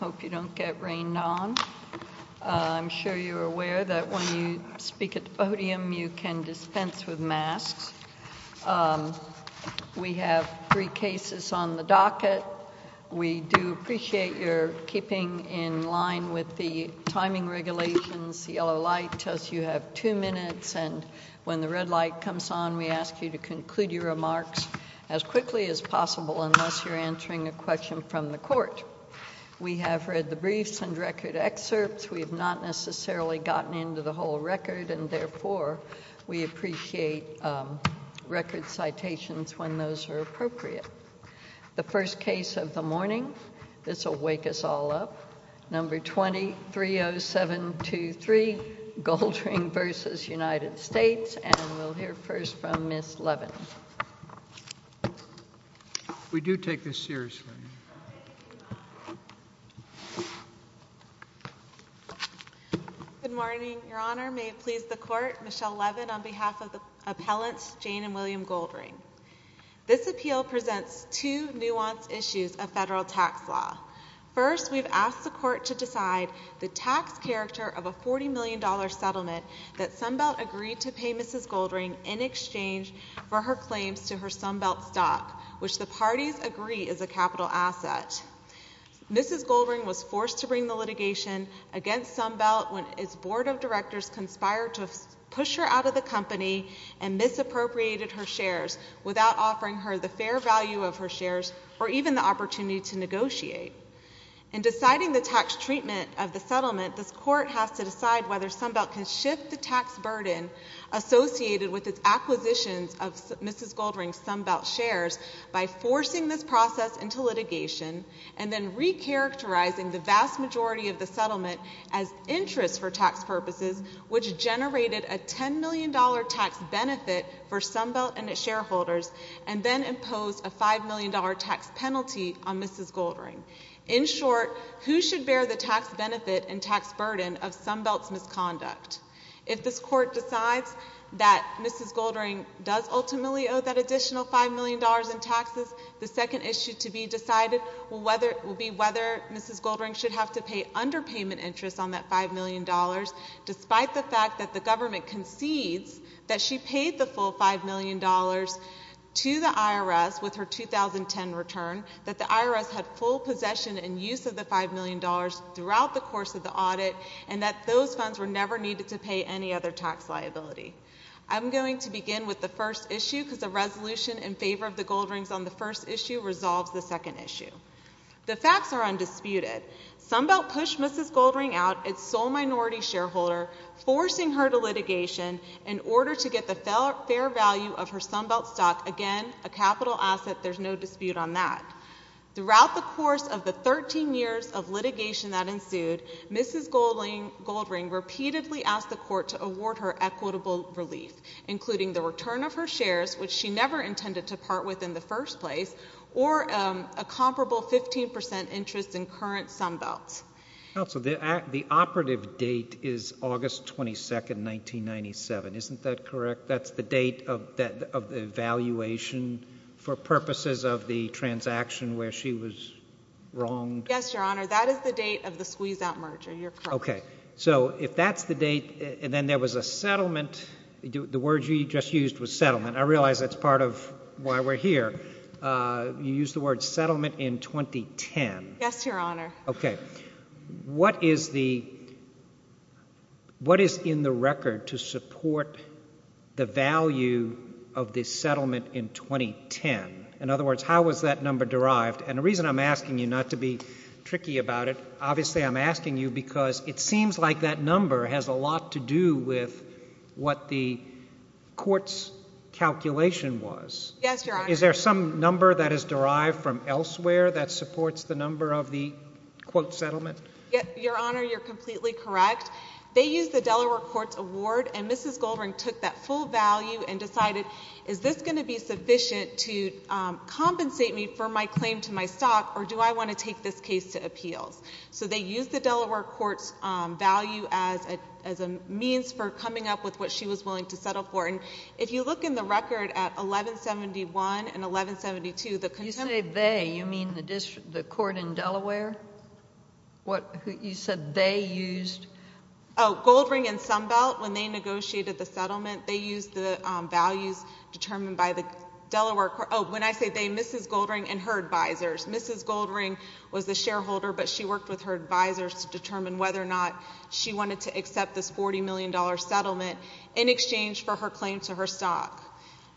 Hope you don't get rained on. I'm sure you're aware that when you speak at the podium you can dispense with masks. We have three cases on the docket. We do appreciate your keeping in line with the timing regulations. The yellow light tells you have two minutes and when the red light comes on we ask you to conclude your remarks as quickly as possible unless you're answering a court. We have read the briefs and record excerpts. We have not necessarily gotten into the whole record and therefore we appreciate record citations when those are appropriate. The first case of the morning, this will wake us all up, number 230723 Goldring v. United States and we'll hear first from Miss Levin. We do take this seriously. Good morning, Your Honor. May it please the court, Michelle Levin on behalf of the appellants Jane and William Goldring. This appeal presents two nuanced issues of federal tax law. First, we've asked the court to decide the tax character of a 40 million dollar settlement that Sunbelt agreed to pay Mrs. Goldring in exchange for her claims to her Sunbelt stock, which the parties agree is a capital asset. Mrs. Goldring was forced to bring the litigation against Sunbelt when its board of directors conspired to push her out of the company and misappropriated her shares without offering her the fair value of her shares or even the opportunity to negotiate. In deciding the tax treatment of the settlement, this court has to decide whether Sunbelt can shift the tax burden associated with its acquisitions of Mrs. Goldring's Sunbelt shares by forcing this process into litigation and then recharacterizing the vast majority of the settlement as interest for tax purposes, which generated a ten million dollar tax benefit for Sunbelt and its shareholders and then imposed a five million dollar tax penalty on Mrs. Goldring. In short, who should bear the tax benefit and tax burden of Sunbelt's misconduct? If this court decides that Mrs. Goldring does ultimately owe that additional five million dollars in taxes, the second issue to be decided will be whether Mrs. Goldring should have to pay underpayment interest on that five million dollars, despite the fact that the government concedes that she paid the full five million dollars to the IRS with her 2010 return, that the IRS had full possession and use of the five million dollars throughout the course of the audit, and that those funds were never needed to pay any other tax liability. I'm going to begin with the first issue because the resolution in favor of the Goldrings on the first issue resolves the second issue. The facts are undisputed. Sunbelt pushed Mrs. Goldring out, its sole minority shareholder, forcing her to litigation in order to get the fair value of her Sunbelt stock, again, a capital asset, there's no dispute on that. Throughout the course of the 13 years of litigation that ensued, Mrs. Goldring repeatedly asked the court to award her equitable relief, including the return of her shares, which she never intended to part with in the first place, or a comparable 15 percent interest in current Sunbelts. Counsel, the operative date is August 22nd, 1997, isn't that correct? That's the date of the evaluation for purposes of the transaction where she was wronged? Yes, Your Honor, that is the date of the squeeze-out merger, you're correct. Okay, so if that's the date, and then there was a settlement, the word you just used was settlement, I realize that's part of why we're here, you used the word settlement in 2010. Yes, Your Honor. What is in the record to support the value of this settlement in 2010? In other words, how was that number derived? And the reason I'm asking you not to be tricky about it, obviously I'm asking you because it seems like that was. Yes, Your Honor. Is there some number that is derived from elsewhere that supports the number of the quote settlement? Your Honor, you're completely correct. They used the Delaware Courts Award, and Mrs. Goldring took that full value and decided, is this going to be sufficient to compensate me for my claim to my stock, or do I want to take this case to appeals? So they used the Delaware Courts value as a means for who's willing to settle for it. And if you look in the record at 1171 and 1172, the consent... You say they, you mean the court in Delaware? You said they used... Oh, Goldring and Sunbelt, when they negotiated the settlement, they used the values determined by the Delaware... oh, when I say they, Mrs. Goldring and her advisors. Mrs. Goldring was the shareholder, but she had this $40 million settlement in exchange for her claim to her stock.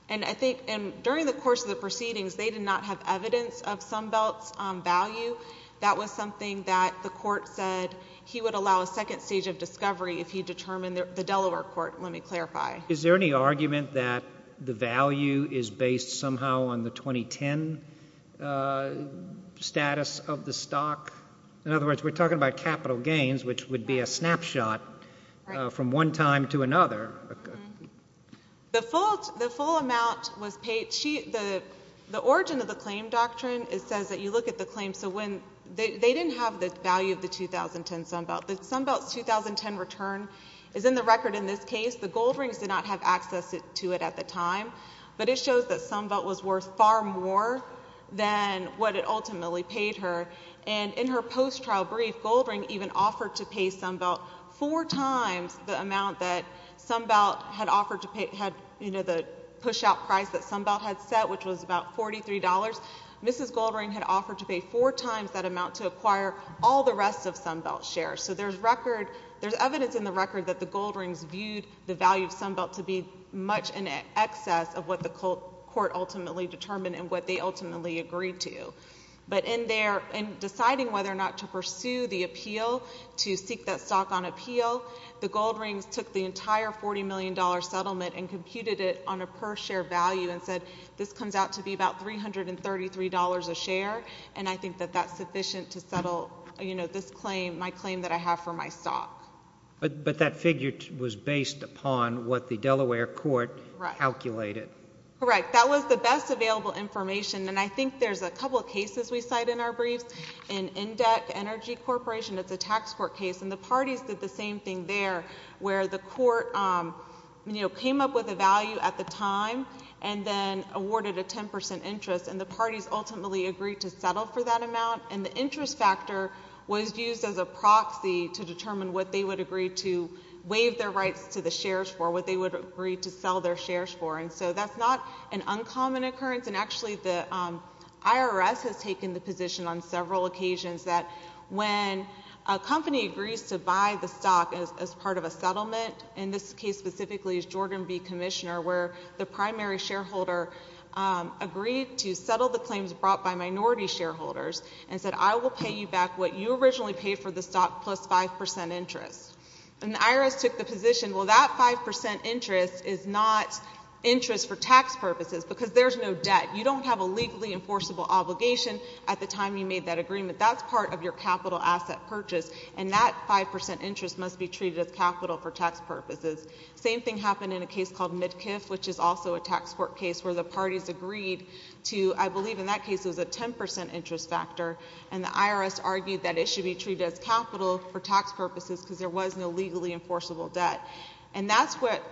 And I think, during the course of the proceedings, they did not have evidence of Sunbelt's value. That was something that the court said he would allow a second stage of discovery if he determined, the Delaware Court, let me clarify. Is there any argument that the value is based somehow on the 2010 status of the stock? In other words, we're talking about capital gains, which would be a snapshot from one time to another. The full amount was paid... the origin of the claim doctrine, it says that you look at the claim, so when... they didn't have the value of the 2010 Sunbelt. The Sunbelt's 2010 return is in the record in this case. The Goldrings did not have access to it at the time, but it shows that Sunbelt was worth far more than what it ultimately paid her. And in her post-trial brief, Goldring even offered to pay Sunbelt four times the amount that Sunbelt had offered to pay... had, you know, the push-out price that Sunbelt had set, which was about $43. Mrs. Goldring had offered to pay four times that amount to acquire all the rest of Sunbelt's share. So there's record... there's evidence in the record that the Goldrings viewed the value of Sunbelt to be much in excess of what the court ultimately determined and what they ultimately agreed to. But in their... in deciding whether or not to pursue the appeal, to seek that stock on appeal, the Goldrings took the entire $40 million settlement and computed it on a per-share value and said, this comes out to be about $333 a share, and I think that that's sufficient to settle, you know, this claim, my claim that I have for my stock. But that figure was based upon what the Delaware court calculated. Correct. That was the best available information, and I think there's a couple of cases we cite in our briefs. In Indec Energy Corporation, it's a tax court case, and the parties did the same thing there, where the court, you know, came up with a value at the time and then awarded a 10% interest, and the parties ultimately agreed to settle for that amount. And the interest factor was used as a proxy to determine what they would agree to waive their rights to the shares for, what they would agree to sell their shares for. And so that's not an uncommon occurrence, and actually the IRS has taken the position on several occasions that when a company agrees to buy the stock as part of a settlement, and this case specifically is Jordan B. Commissioner, where the primary shareholder agreed to settle the claims brought by minority shareholders and said, I will pay you back what you originally paid for the stock plus 5% interest. And the IRS took the position, well, that 5% interest is not interest for tax purposes, because there's no debt. You don't have a legally enforceable obligation at the time you made that agreement. That's part of your capital asset purchase, and that 5% interest must be treated as capital for tax purposes. Same thing happened in a case called Midkiff, which is also a tax court case, where the parties agreed to, I believe in that case it was a 10% interest factor, and the IRS argued that it should be treated as capital for tax purposes. And that's what,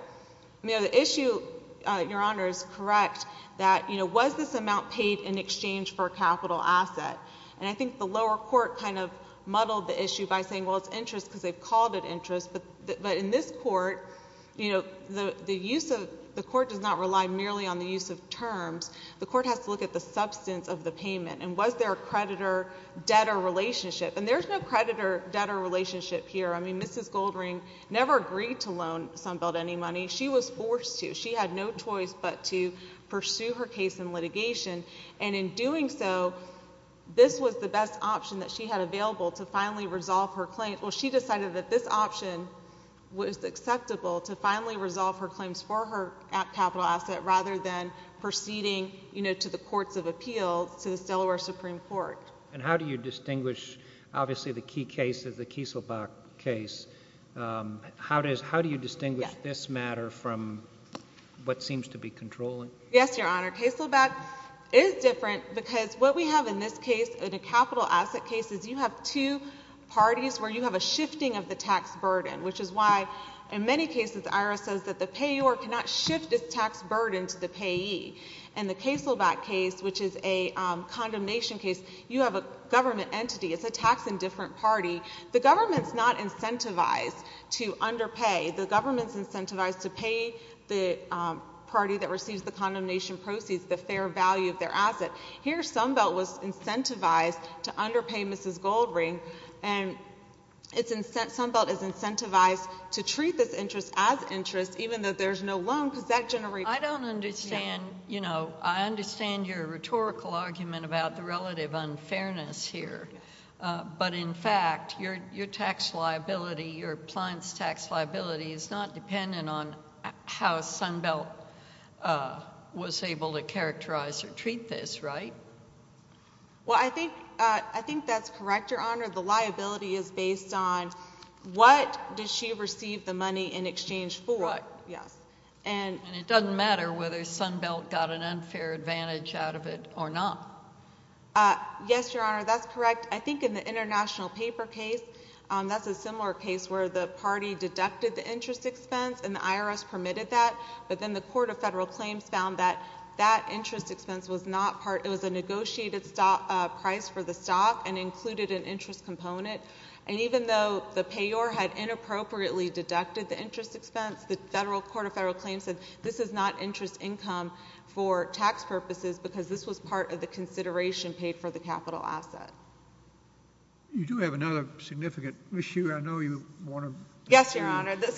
you know, the issue, Your Honor, is correct, that, you know, was this amount paid in exchange for a capital asset? And I think the lower court kind of muddled the issue by saying, well, it's interest because they've called it interest. But in this court, you know, the use of the court does not rely merely on the use of terms. The court has to look at the substance of the payment, and was there a creditor-debtor relationship. And there's no creditor-debtor relationship here. I mean, Mrs. Goldring never agreed to loan Sunbelt any money. She was forced to. She had no choice but to pursue her case in litigation. And in doing so, this was the best option that she had available to finally resolve her claim. Well, she decided that this option was acceptable to finally resolve her claims for her capital asset rather than proceeding, you know, to the courts of appeals, to this Delaware Supreme Court. And how do you distinguish, obviously, the key case is the Kieselbach case. How do you distinguish this matter from what seems to be controlling? Yes, Your Honor. Kieselbach is different because what we have in this case, in a capital asset case, is you have two parties where you have a shifting of the tax burden, which is why, in many cases, IRS says that the payor cannot shift its tax burden to the payee. In the Kieselbach case, which is a condemnation case, you have a government entity. It's a tax indifferent party. The government's not incentivized to underpay. The government's incentivized to pay the party that receives the condemnation proceeds the fair value of their asset. Here, Sunbelt was incentivized to underpay Mrs. Goldring. And Sunbelt is incentivized to treat this interest as interest, even though there's no loan, because that generates a liability. I don't understand, you know, I understand your rhetorical argument about the relative unfairness here. But, in fact, your tax liability, your appliance tax liability, is not dependent on how Sunbelt was able to characterize or treat this, right? Well, I think that's correct, Your Honor. The liability is based on what does she receive the money in exchange for. And it doesn't matter whether Sunbelt got an unfair advantage out of it or not. Yes, Your Honor, that's correct. I think in the international paper case, that's a similar case where the party deducted the interest expense and the IRS permitted that, but then the Court of Federal Claims found that that interest expense was not part, it was a negotiated stock price for the stock and included an interest component. And even though the payor had inappropriately deducted the interest expense, the Federal Court of Federal Claims said this is not interest income for tax purposes because this was part of the consideration paid for the capital asset. You do have another significant issue. I know you want to... Yes, Your Honor. The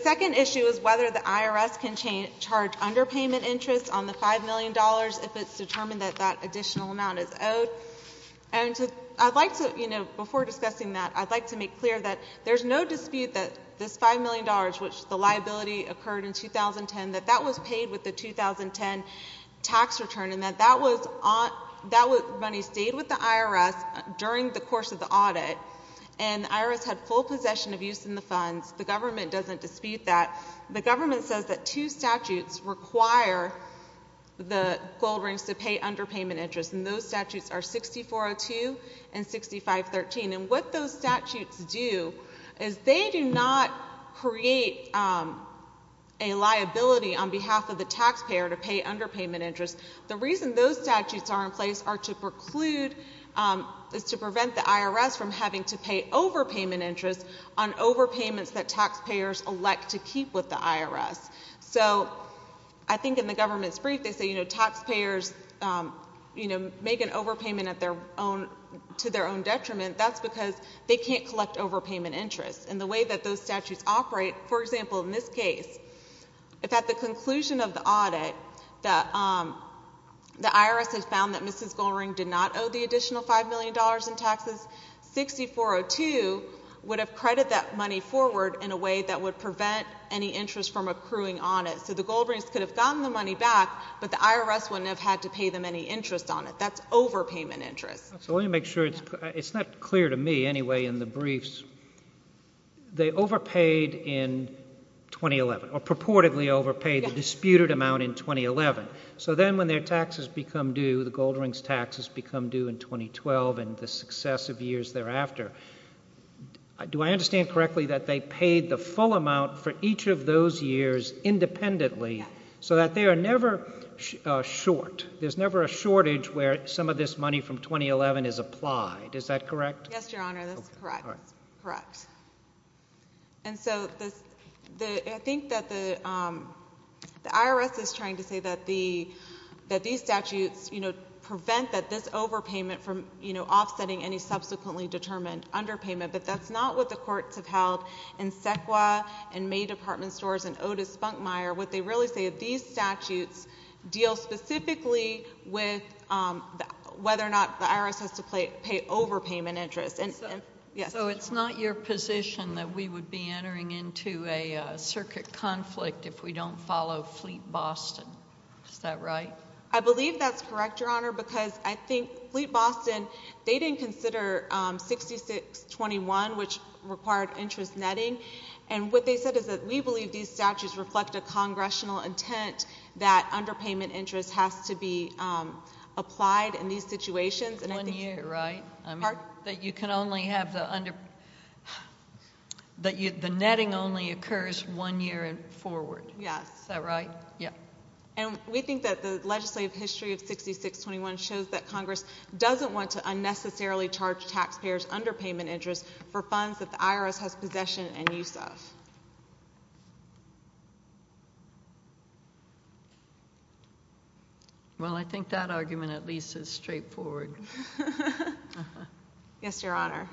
second issue is whether the IRS can charge underpayment interest on the five million dollars if it's determined that that additional amount is owed. And I'd like to, you know, before I speak, that this five million dollars, which the liability occurred in 2010, that that was paid with the 2010 tax return, and that that money stayed with the IRS during the course of the audit, and the IRS had full possession of use in the funds. The government doesn't dispute that. The government says that two statutes require the gold rings to pay underpayment interest, and those statutes are 6402 and 6513. And what those statutes do is they do not create a liability on behalf of the taxpayer to pay underpayment interest. The reason those statutes are in place are to preclude, is to prevent the IRS from having to pay overpayment interest on overpayments that taxpayers elect to keep with the IRS. So I think in the government's brief they say, you know, taxpayers, you know, overpayment to their own detriment, that's because they can't collect overpayment interest. And the way that those statutes operate, for example, in this case, if at the conclusion of the audit the IRS has found that Mrs. Gold Ring did not owe the additional five million dollars in taxes, 6402 would have credited that money forward in a way that would prevent any interest from accruing on it. So the gold rings could have gotten the money back, but the IRS wouldn't have had to pay them any interest on it. That's overpayment interest. So let me make sure, it's not clear to me anyway in the briefs, they overpaid in 2011, or purportedly overpaid the disputed amount in 2011. So then when their taxes become due, the gold rings taxes become due in 2012 and the successive years thereafter, do I understand correctly that they paid the full amount for each of those years independently, so that they are never short? There's never a shortage where some of this money from 2011 is applied, is that correct? Yes, Your Honor, that's correct. And so I think that the IRS is trying to say that these statutes, you know, prevent that this overpayment from, you know, offsetting any subsequently determined underpayment, but that's not what the courts have held in Sequa and May Department Stores and deal specifically with whether or not the IRS has to pay overpayment interest. And so it's not your position that we would be entering into a circuit conflict if we don't follow Fleet Boston, is that right? I believe that's correct, Your Honor, because I think Fleet Boston, they didn't consider 6621, which required interest netting. And what they said is that we believe these statutes reflect a congressional intent that underpayment interest has to be applied in these situations. One year, right? That you can only have the under, that the netting only occurs one year forward, is that right? Yes. And we think that the legislative history of 6621 shows that Congress doesn't want to unnecessarily charge taxpayers underpayment interest for funds that the IRS doesn't have to pay. Well, I think that argument at least is straightforward. Yes, Your Honor.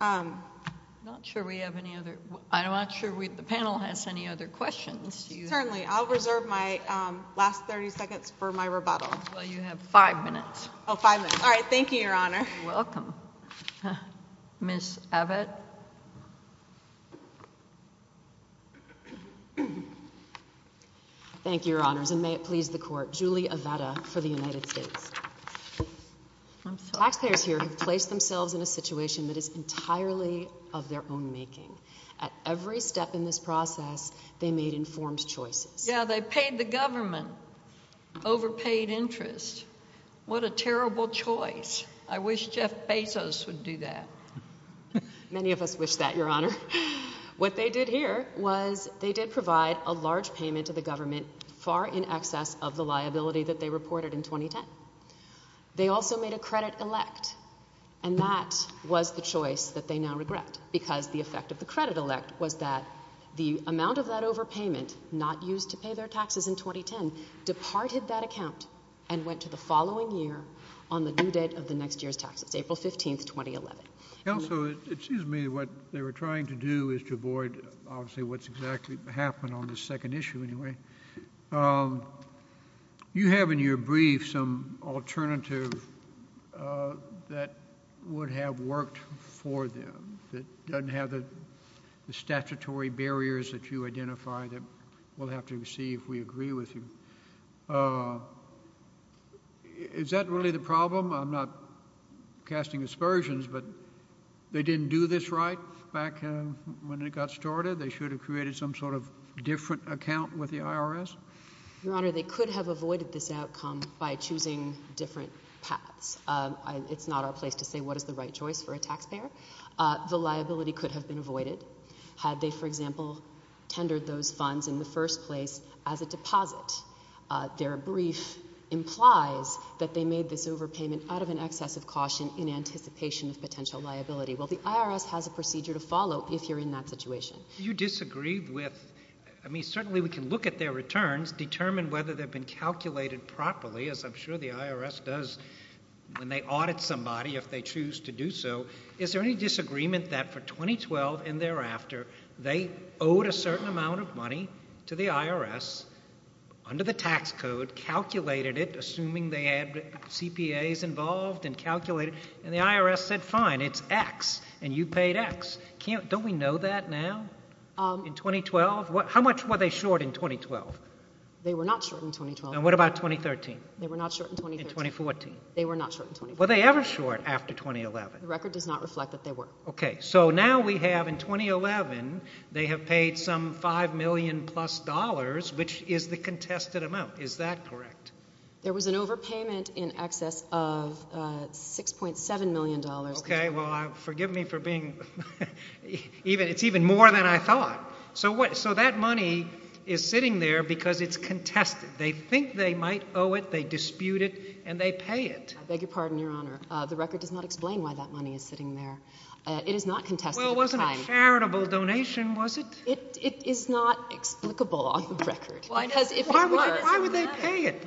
I'm not sure we have any other, I'm not sure we, the panel has any other questions. Certainly. I'll reserve my last 30 seconds for my rebuttal. Well, five minutes. All right. Thank you, Your Honor. Welcome, Miss Abbott. Thank you, Your Honors. And may it please the court, Julie Aveda for the United States. Taxpayers here have placed themselves in a situation that is entirely of their own making. At every step in this process, they made informed choices. Yeah, they paid the government overpaid interest. What a terrible choice. I wish Jeff Bezos would do that. Many of us wish that, Your Honor. What they did here was they did provide a large payment to the government far in excess of the liability that they reported in 2010. They also made a credit elect, and that was the choice that they now regret, because the effect of the credit overpayment, not used to pay their taxes in 2010, departed that account and went to the following year on the due date of the next year's taxes, April 15th, 2011. Counselor, excuse me, what they were trying to do is to avoid obviously what's exactly happened on this second issue anyway. You have in your brief some alternative that would have worked for them, that doesn't have the statutory barriers that you identify that we'll have to see if we agree with you. Is that really the problem? I'm not casting aspersions, but they didn't do this right back when it got started? They should have created some sort of different account with the IRS? Your Honor, they could have avoided this outcome by choosing different paths. It's not our place to say what is the right choice for a taxpayer. The liability could have been avoided had they, for example, tendered those funds in the first place as a deposit. Their brief implies that they made this overpayment out of an excess of caution in anticipation of potential liability. Well, the IRS has a procedure to follow if you're in that situation. Do you disagree with, I mean, certainly we can look at their returns, determine whether they've been calculated properly as I'm sure the IRS does when they audit somebody if they choose to do so. Is there any disagreement that for 2012 and thereafter, they owed a certain amount of money to the IRS under the tax code, calculated it, assuming they had CPAs involved and calculated, and the IRS said, fine, it's X, and you paid X. Don't we know that now? In 2012? How much were they short in 2012? They were not short in 2013. In 2014? They were not short in 2014. Were they ever short after 2011? The record does not reflect that they were. Okay, so now we have in 2011, they have paid some five million plus dollars, which is the contested amount. Is that correct? There was an overpayment in excess of 6.7 million dollars. Okay, well, forgive me for being, even, it's even more than I thought. So what, so that money is sitting there because it's contested. They think they might owe it, they dispute it, and they pay it. I beg your pardon, Your Honor, the record does not explain why that money is sitting there. It is not contested. Well, it wasn't a charitable donation, was it? It is not explicable on the record. Why would they pay it?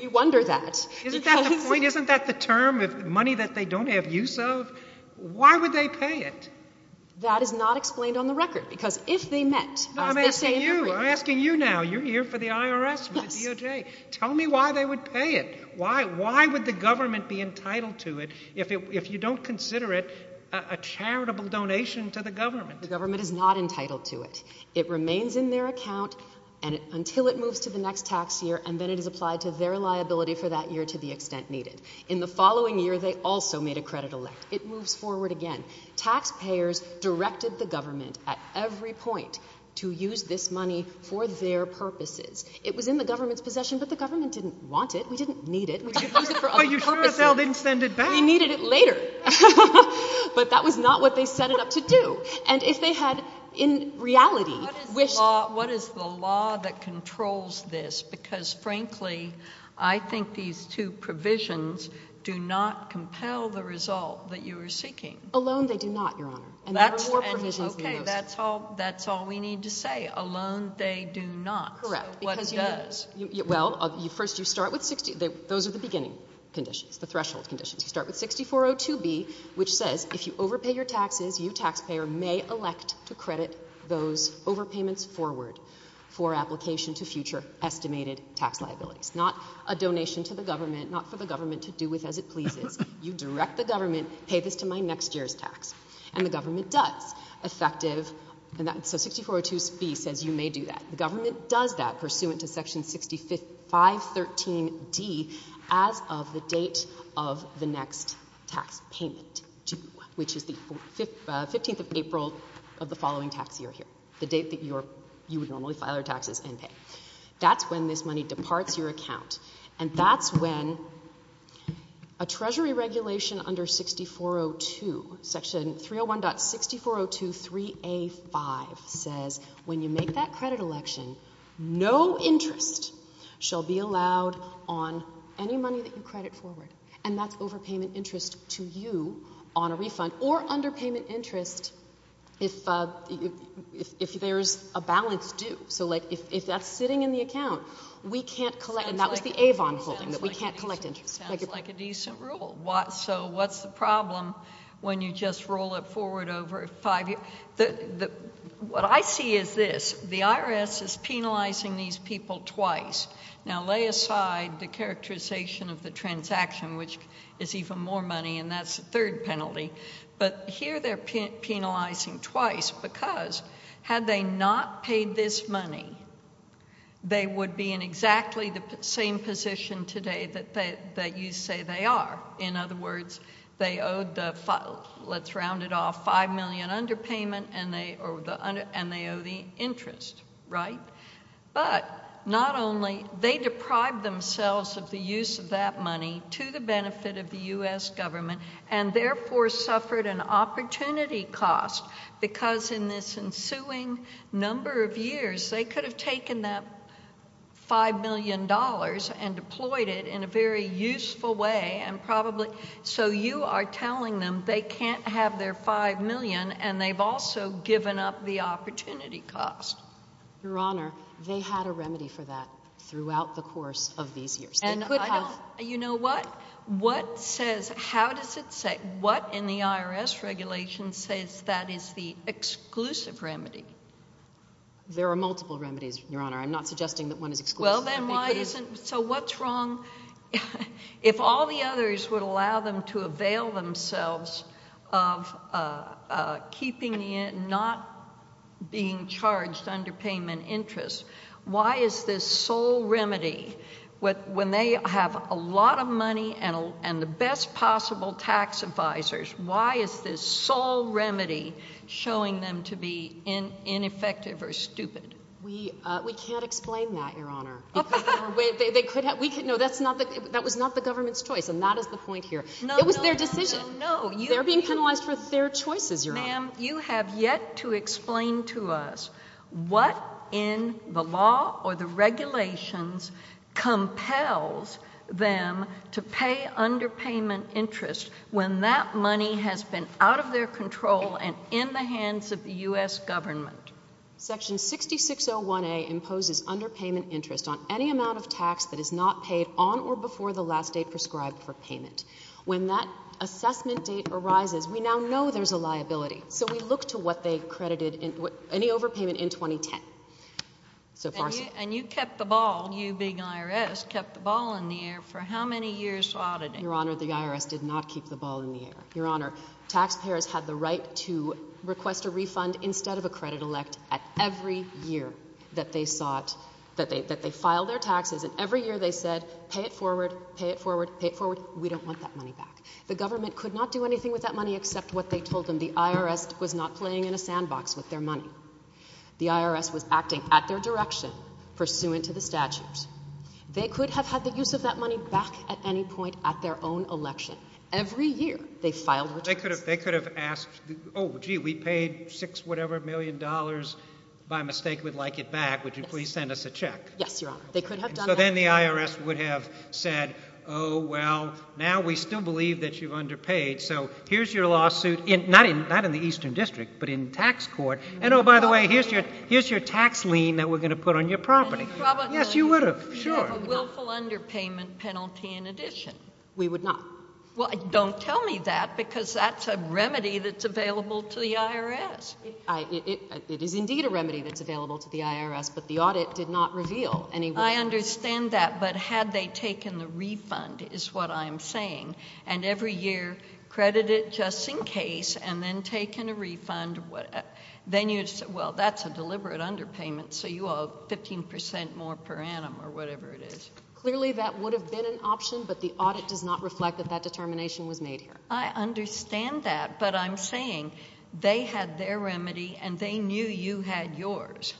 You wonder that. Isn't that the point? Isn't that the term of money that they don't have use of? Why would they pay it? That is not what I'm asking you now. You're here for the IRS, for the DOJ. Tell me why they would pay it. Why would the government be entitled to it if you don't consider it a charitable donation to the government? The government is not entitled to it. It remains in their account until it moves to the next tax year, and then it is applied to their liability for that year to the extent needed. In the following year, they also made a credit elect. It moves forward again. Taxpayers directed the government, at every point, to use this money for their purposes. It was in the government's possession, but the government didn't want it. We didn't need it. We could use it for other purposes. But you sure as hell didn't send it back. We needed it later. But that was not what they set it up to do. And if they had, in reality, wished... What is the law that controls this? Because, frankly, I think these two provisions do not compel the result that you are seeking. Alone, they do not, Your Honor. And there are more provisions than those. Okay. That's all we need to say. Alone, they do not. So what does? Well, first, you start with... Those are the beginning conditions, the threshold conditions. You start with 6402B, which says, if you overpay your taxes, you, taxpayer, may elect to credit those overpayments forward for application to future estimated tax liabilities. Not a donation to the government, not for the government to do with as it pleases. You direct the government, pay this to my next year's tax. And the government does. Effective... So 6402B says you may do that. The government does that pursuant to Section 6513D as of the date of the next tax payment due, which is the 15th of April of the following tax year here, the date that you would normally file your taxes and pay. That's when this money departs your account. And that's when a Treasury regulation under 6402, Section 301.6402.3A.5 says, when you make that credit election, no interest shall be allowed on any money that you credit forward. And that's overpayment interest to you on a refund or underpayment interest if there's a balance due. So, like, if that's sitting in the account, we can't collect. And that was the Avon holding, that we can't collect interest. Sounds like a decent rule. So what's the problem when you just roll it forward over five years? What I see is this. The IRS is penalizing these people twice. Now, lay aside the characterization of the transaction, which is even more money, and that's the third penalty. But here they're penalizing twice, because had they not paid this money, they would be in exactly the same position today that you say they are. In other words, they owed the, let's round it off, $5 million underpayment, and they owe the interest, right? But not only, they deprived themselves of the use of that money to the benefit of the U.S. government, and therefore suffered an opportunity cost, because in this ensuing number of years, they could have taken that $5 million and deployed it in a very useful way, and probably, so you are telling them they can't have their $5 million, and they've also given up the opportunity cost. Your Honor, they had a remedy for that throughout the course of these years. You know what? What says, how does it say, what in the IRS regulation says that is the exclusive remedy? There are multiple remedies, Your Honor. I'm not suggesting that one is exclusive. So what's wrong, if all the others would allow them to avail themselves of keeping it, not being charged underpayment interest, why is this sole remedy, when they have a lot of money and the best possible tax advisors, why is this sole remedy showing them to be ineffective or stupid? We can't explain that, Your Honor. No, that was not the government's choice, and that is the point here. It was their decision. No, no, no, no. They're being penalized for their choices, Your Honor. Ma'am, you have yet to explain to us what in the law or the regulations compels them to pay underpayment interest when that money has been out of their control and in the hands of the U.S. government. Section 6601A imposes underpayment interest on any amount of tax that is not paid on or before the last date prescribed for payment. When that assessment date arises, we now know there's a liability. So we look to what they credited, any overpayment in 2010. And you kept the ball, you big IRS, kept the ball in the air for how many years while today? Your Honor, the IRS did not keep the ball in the air. Your Honor, taxpayers had the right to request a refund instead of a credit elect at every year that they filed their taxes. And every year they said, pay it forward, pay it forward, pay it forward. We don't want that money back. The government could not do anything with that money except what they told them. The IRS was not playing in a sandbox with their money. The IRS was acting at their direction pursuant to the statutes. They could have had the use of that money back at any point at their own election. Every year they filed their taxes. They could have asked, oh, gee, we paid six whatever million dollars, by mistake we'd like it back. Would you please send us a check? Yes, Your Honor. They could have done that. So then the IRS would have said, oh, well, now we still believe that you've underpaid. So here's your lawsuit, not in the Eastern District, but in tax court. And, oh, by the way, here's your tax lien that we're going to put on your property. Yes, you would have, sure. You would have a willful underpayment penalty in addition. We would not. Well, don't tell me that because that's a remedy that's available to the IRS. It is indeed a remedy that's available to the IRS, but the audit did not reveal any willful underpayment. I understand that, but had they taken the refund is what I'm saying, and every year credited just in case and then taken a refund, then you'd say, well, that's a deliberate underpayment, so you owe 15 percent more per annum or whatever it is. Clearly that would have been an option, but the audit does not reflect that that determination was made here. I understand that, but I'm saying they had their remedy and they knew you had yours,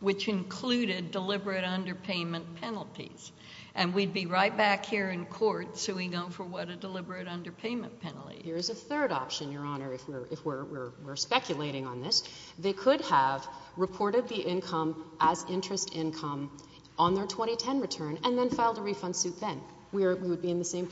which included deliberate underpayment penalties, and we'd be right back here in court suing them for what a deliberate underpayment penalty is. Here's a third option, Your Honor, if we're speculating on this. They could have reported the income as interest income on their 2010 return and then filed a refund suit then. We would be in the same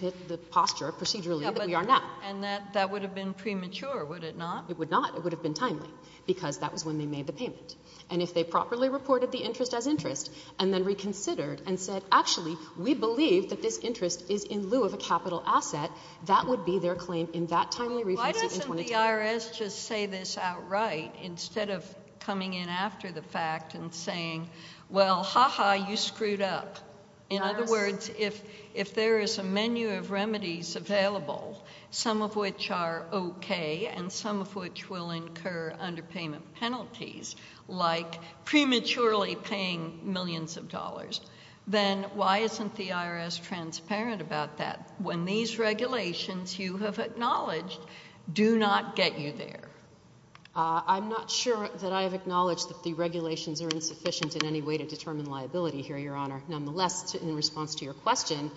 posture procedurally that we are now. And that would have been premature, would it not? It would not. It would have been timely because that was when they made the payment, and if they properly reported the interest as interest and then reconsidered and said, actually, we believe that this interest is in lieu of a capital asset, that would be their claim in that timely refund suit in 2010. Couldn't the IRS just say this outright instead of coming in after the fact and saying, well, ha-ha, you screwed up? In other words, if there is a menu of remedies available, some of which are okay and some of which will incur underpayment penalties, like prematurely paying millions of dollars, then why isn't the IRS transparent about that? When these regulations you have acknowledged do not get you there. I'm not sure that I have acknowledged that the regulations are insufficient in any way to determine liability here, Your Honor. Nonetheless, in response to your question,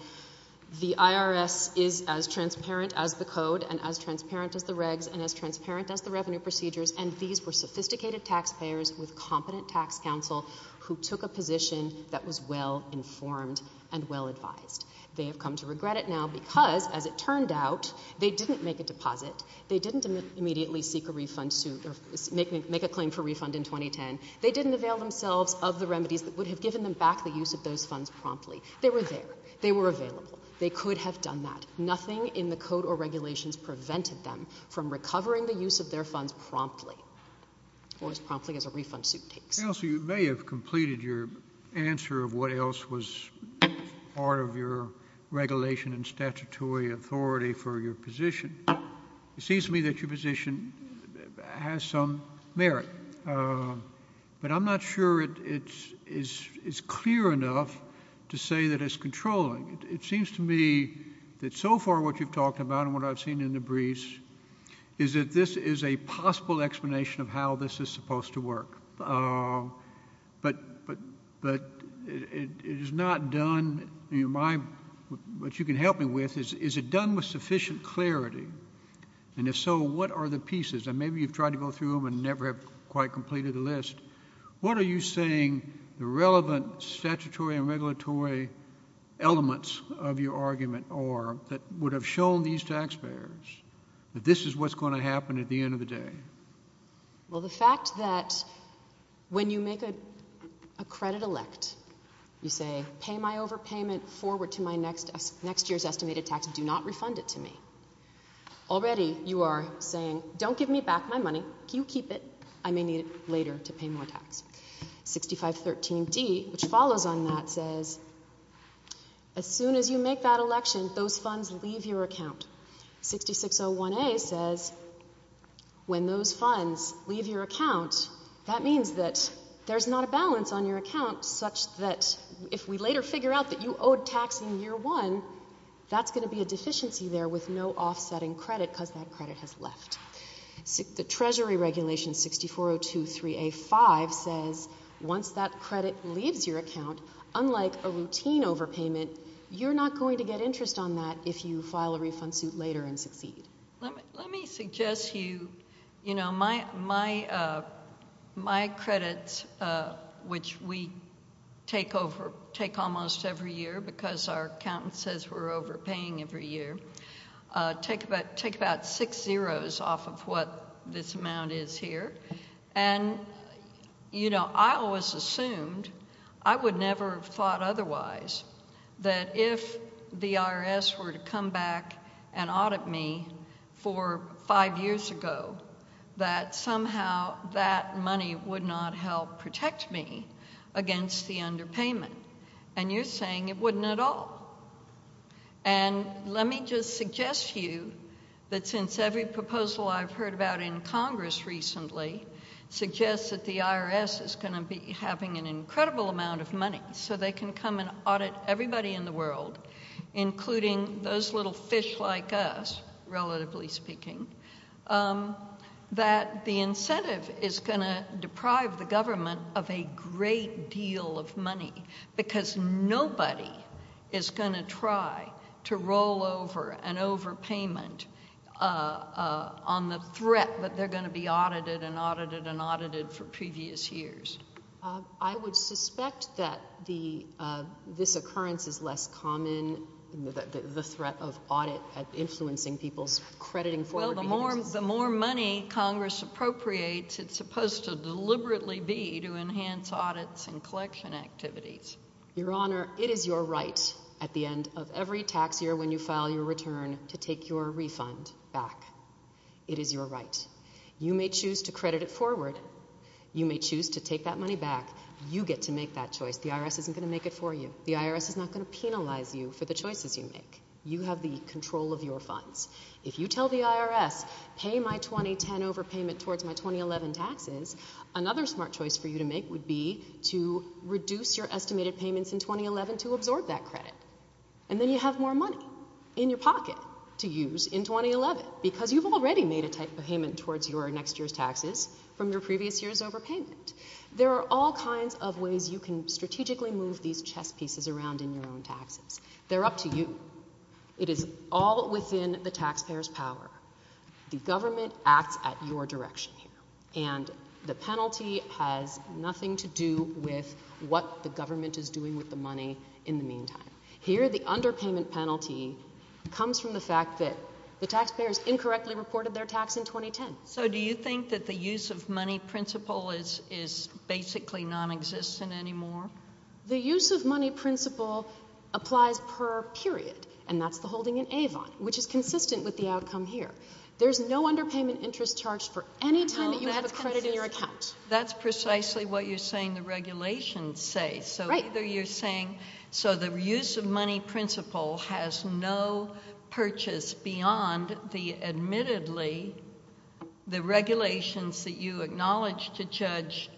the IRS is as transparent as the code and as transparent as the regs and as transparent as the revenue procedures, and these were sophisticated taxpayers with competent tax counsel who took a position that was well-informed and well-advised. They have come to regret it now because, as it turned out, they didn't make a deposit. They didn't immediately seek a refund suit or make a claim for refund in 2010. They didn't avail themselves of the remedies that would have given them back the use of those funds promptly. They were there. They were available. They could have done that. Nothing in the code or regulations prevented them from recovering the use of their funds promptly, or as promptly as a refund suit takes. Counsel, you may have completed your answer of what else was part of your regulation and statutory authority for your position. It seems to me that your position has some merit, but I'm not sure it's clear enough to say that it's controlling. It seems to me that so far what you've talked about and what I've seen in the briefs is that this is a possible explanation of how this is supposed to work. But it is not done. What you can help me with is, is it done with sufficient clarity? And if so, what are the pieces? And maybe you've tried to go through them and never have quite completed the list. What are you saying the relevant statutory and regulatory elements of your argument are that would have shown these taxpayers that this is what's going to happen at the end of the day? Well, the fact that when you make a credit elect, you say, pay my overpayment forward to my next year's estimated tax and do not refund it to me. Already you are saying, don't give me back my money. You keep it. I may need it later to pay more tax. 6513D, which follows on that, says as soon as you make that election, those funds leave your account. 6601A says when those funds leave your account, that means that there's not a balance on your account such that if we later figure out that you owed tax in year one, that's going to be a deficiency there with no offset in credit because that credit has left. The treasury regulation 64023A5 says once that credit leaves your account, unlike a routine overpayment, you're not going to get interest on that if you file a refund suit later and succeed. Let me suggest to you, you know, my credits, which we take almost every year because our accountant says we're overpaying every year, take about six zeros off of what this amount is here. And, you know, I always assumed, I would never have thought otherwise, that if the IRS were to come back and audit me for five years ago, that somehow that money would not help protect me against the underpayment. And you're saying it wouldn't at all. And let me just suggest to you that since every proposal I've heard about in Congress recently suggests that the IRS is going to be having an incredible amount of money so they can come and audit everybody in the world, including those little fish like us, relatively speaking, that the incentive is going to deprive the government of a great deal of money because nobody is going to try to roll over an overpayment on the threat that they're going to be audited and audited and audited for previous years. I would suspect that this occurrence is less common, the threat of audit influencing people's crediting. Well, the more money Congress appropriates, it's supposed to deliberately be to enhance audits and collection activities. Your Honor, it is your right at the end of every tax year when you file your return to take your refund back. It is your right. You may choose to credit it forward. You may choose to take that money back. You get to make that choice. The IRS isn't going to make it for you. The IRS is not going to penalize you for the choices you make. You have the control of your funds. If you tell the IRS, pay my 2010 overpayment towards my 2011 taxes, another smart choice for you to make would be to reduce your estimated payments in 2011 to absorb that credit. And then you have more money in your pocket to use in 2011 because you've already made a payment towards your next year's taxes from your previous year's overpayment. There are all kinds of ways you can strategically move these chess pieces around in your own taxes. They're up to you. It is all within the taxpayer's power. The government acts at your direction here. And the penalty has nothing to do with what the government is doing with the money in the meantime. Here the underpayment penalty comes from the fact that the taxpayers incorrectly reported their tax in 2010. So do you think that the use of money principle is basically nonexistent anymore? The use of money principle applies per period, and that's the holding in Avon, which is consistent with the outcome here. There's no underpayment interest charged for any time that you have a credit in your account. That's precisely what you're saying the regulations say. Right. So either you're saying so the use of money principle has no purchase beyond the admittedly the regulations that you acknowledge to judge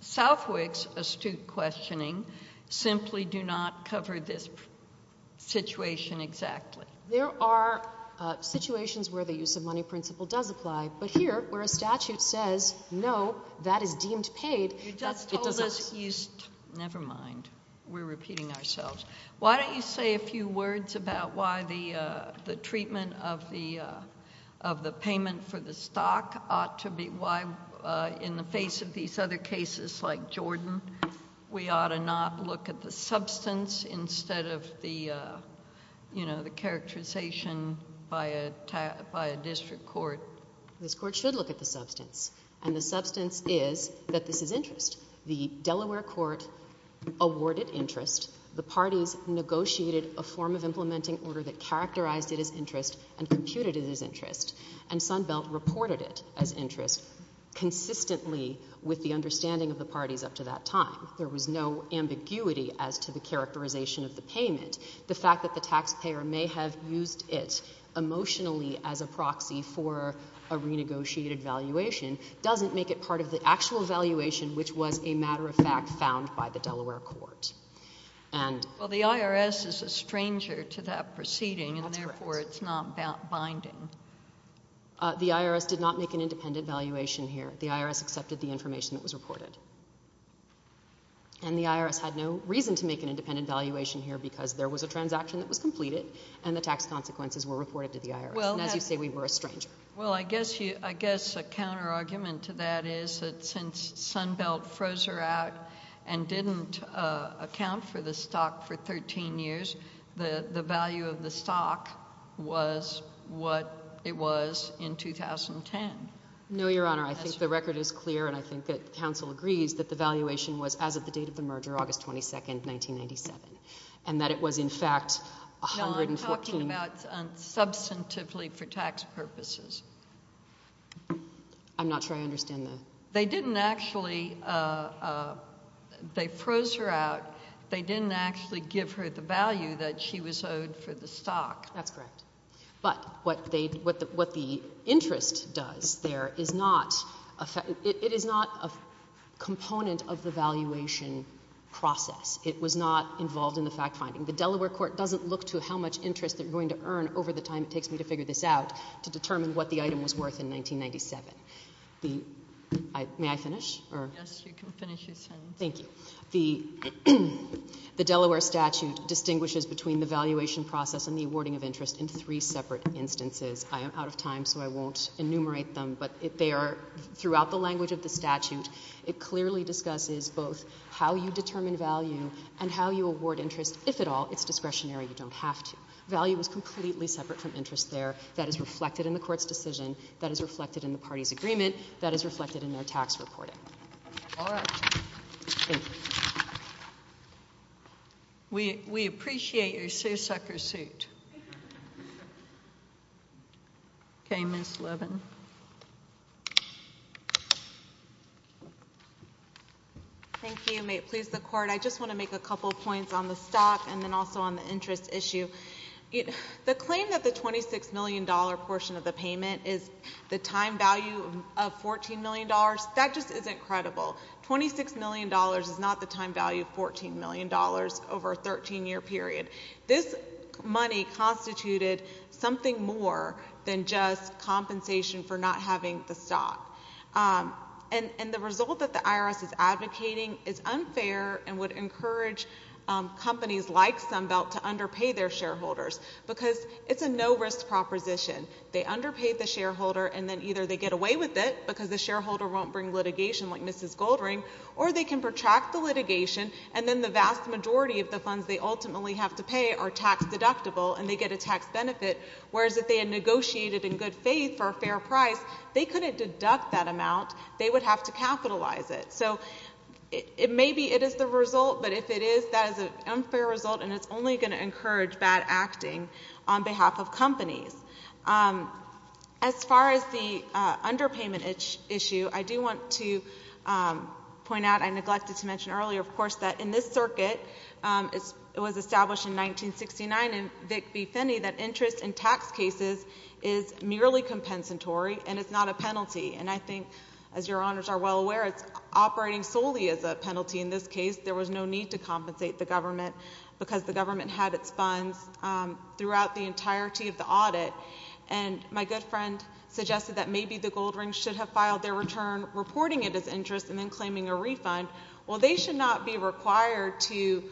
Southwick's astute questioning simply do not cover this situation exactly. There are situations where the use of money principle does apply. But here where a statute says, no, that is deemed paid, it does not. You just told us you never mind. We're repeating ourselves. Why don't you say a few words about why the treatment of the payment for the stock ought to be why in the face of these other cases like Jordan, we ought to not look at the substance instead of the characterization by a district court. This court should look at the substance. And the substance is that this is interest. The Delaware court awarded interest. The parties negotiated a form of implementing order that characterized it as interest and computed it as interest. And Sunbelt reported it as interest consistently with the understanding of the parties up to that time. There was no ambiguity as to the characterization of the payment. The fact that the taxpayer may have used it emotionally as a proxy for a renegotiated valuation doesn't make it part of the actual valuation which was a matter of fact found by the Delaware court. Well, the IRS is a stranger to that proceeding, and therefore it's not binding. The IRS did not make an independent valuation here. And the IRS had no reason to make an independent valuation here because there was a transaction that was completed and the tax consequences were reported to the IRS. And as you say, we were a stranger. Well, I guess a counterargument to that is that since Sunbelt froze her out and didn't account for the stock for 13 years, the value of the stock was what it was in 2010. No, Your Honor. I think the record is clear, and I think that counsel agrees that the valuation was as of the date of the merger, August 22, 1997, and that it was in fact $114. No, I'm talking about substantively for tax purposes. I'm not sure I understand that. They didn't actually—they froze her out. They didn't actually give her the value that she was owed for the stock. That's correct. But what the interest does there is not—it is not a component of the valuation process. It was not involved in the fact-finding. The Delaware court doesn't look to how much interest they're going to earn over the time it takes me to figure this out to determine what the item was worth in 1997. May I finish? Yes, you can finish your sentence. Thank you. The Delaware statute distinguishes between the valuation process and the awarding of interest in three separate instances. I am out of time, so I won't enumerate them, but they are—throughout the language of the statute, it clearly discusses both how you determine value and how you award interest. If at all, it's discretionary. You don't have to. Value is completely separate from interest there. That is reflected in the court's decision. That is reflected in the party's agreement. That is reflected in their tax reporting. All right. We appreciate your seersucker suit. Okay, Ms. Levin. Thank you. May it please the Court, I just want to make a couple points on the stock and then also on the interest issue. The claim that the $26 million portion of the payment is the time value of $14 million, that just isn't credible. $26 million is not the time value of $14 million over a 13-year period. This money constituted something more than just compensation for not having the stock. And the result that the IRS is advocating is unfair and would encourage companies like Sunbelt to underpay their shareholders, because it's a no-risk proposition. They underpay the shareholder, and then either they get away with it because the shareholder won't bring litigation like Mrs. Goldring, or they can protract the litigation, and then the vast majority of the funds they ultimately have to pay are tax-deductible, and they get a tax benefit, whereas if they had negotiated in good faith for a fair price, they couldn't deduct that amount. They would have to capitalize it. So it may be it is the result, but if it is, that is an unfair result, and it's only going to encourage bad acting on behalf of companies. As far as the underpayment issue, I do want to point out, I neglected to mention earlier, of course, that in this circuit, it was established in 1969 in Vic v. Finney that interest in tax cases is merely compensatory and it's not a penalty. And I think, as your honors are well aware, it's operating solely as a penalty in this case. There was no need to compensate the government because the government had its funds throughout the entirety of the audit. And my good friend suggested that maybe the Goldrings should have filed their return reporting it as interest and then claiming a refund. Well, they should not be required to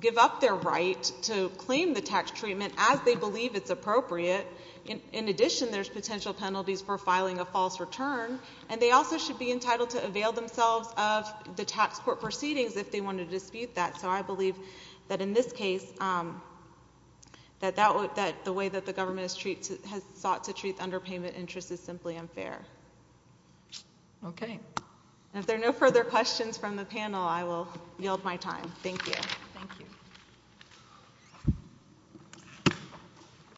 give up their right to claim the tax treatment as they believe it's appropriate. In addition, there's potential penalties for filing a false return. And they also should be entitled to avail themselves of the tax court proceedings if they want to dispute that. So I believe that in this case that the way that the government has sought to treat underpayment interest is simply unfair. Okay. If there are no further questions from the panel, I will yield my time. Thank you. Thank you.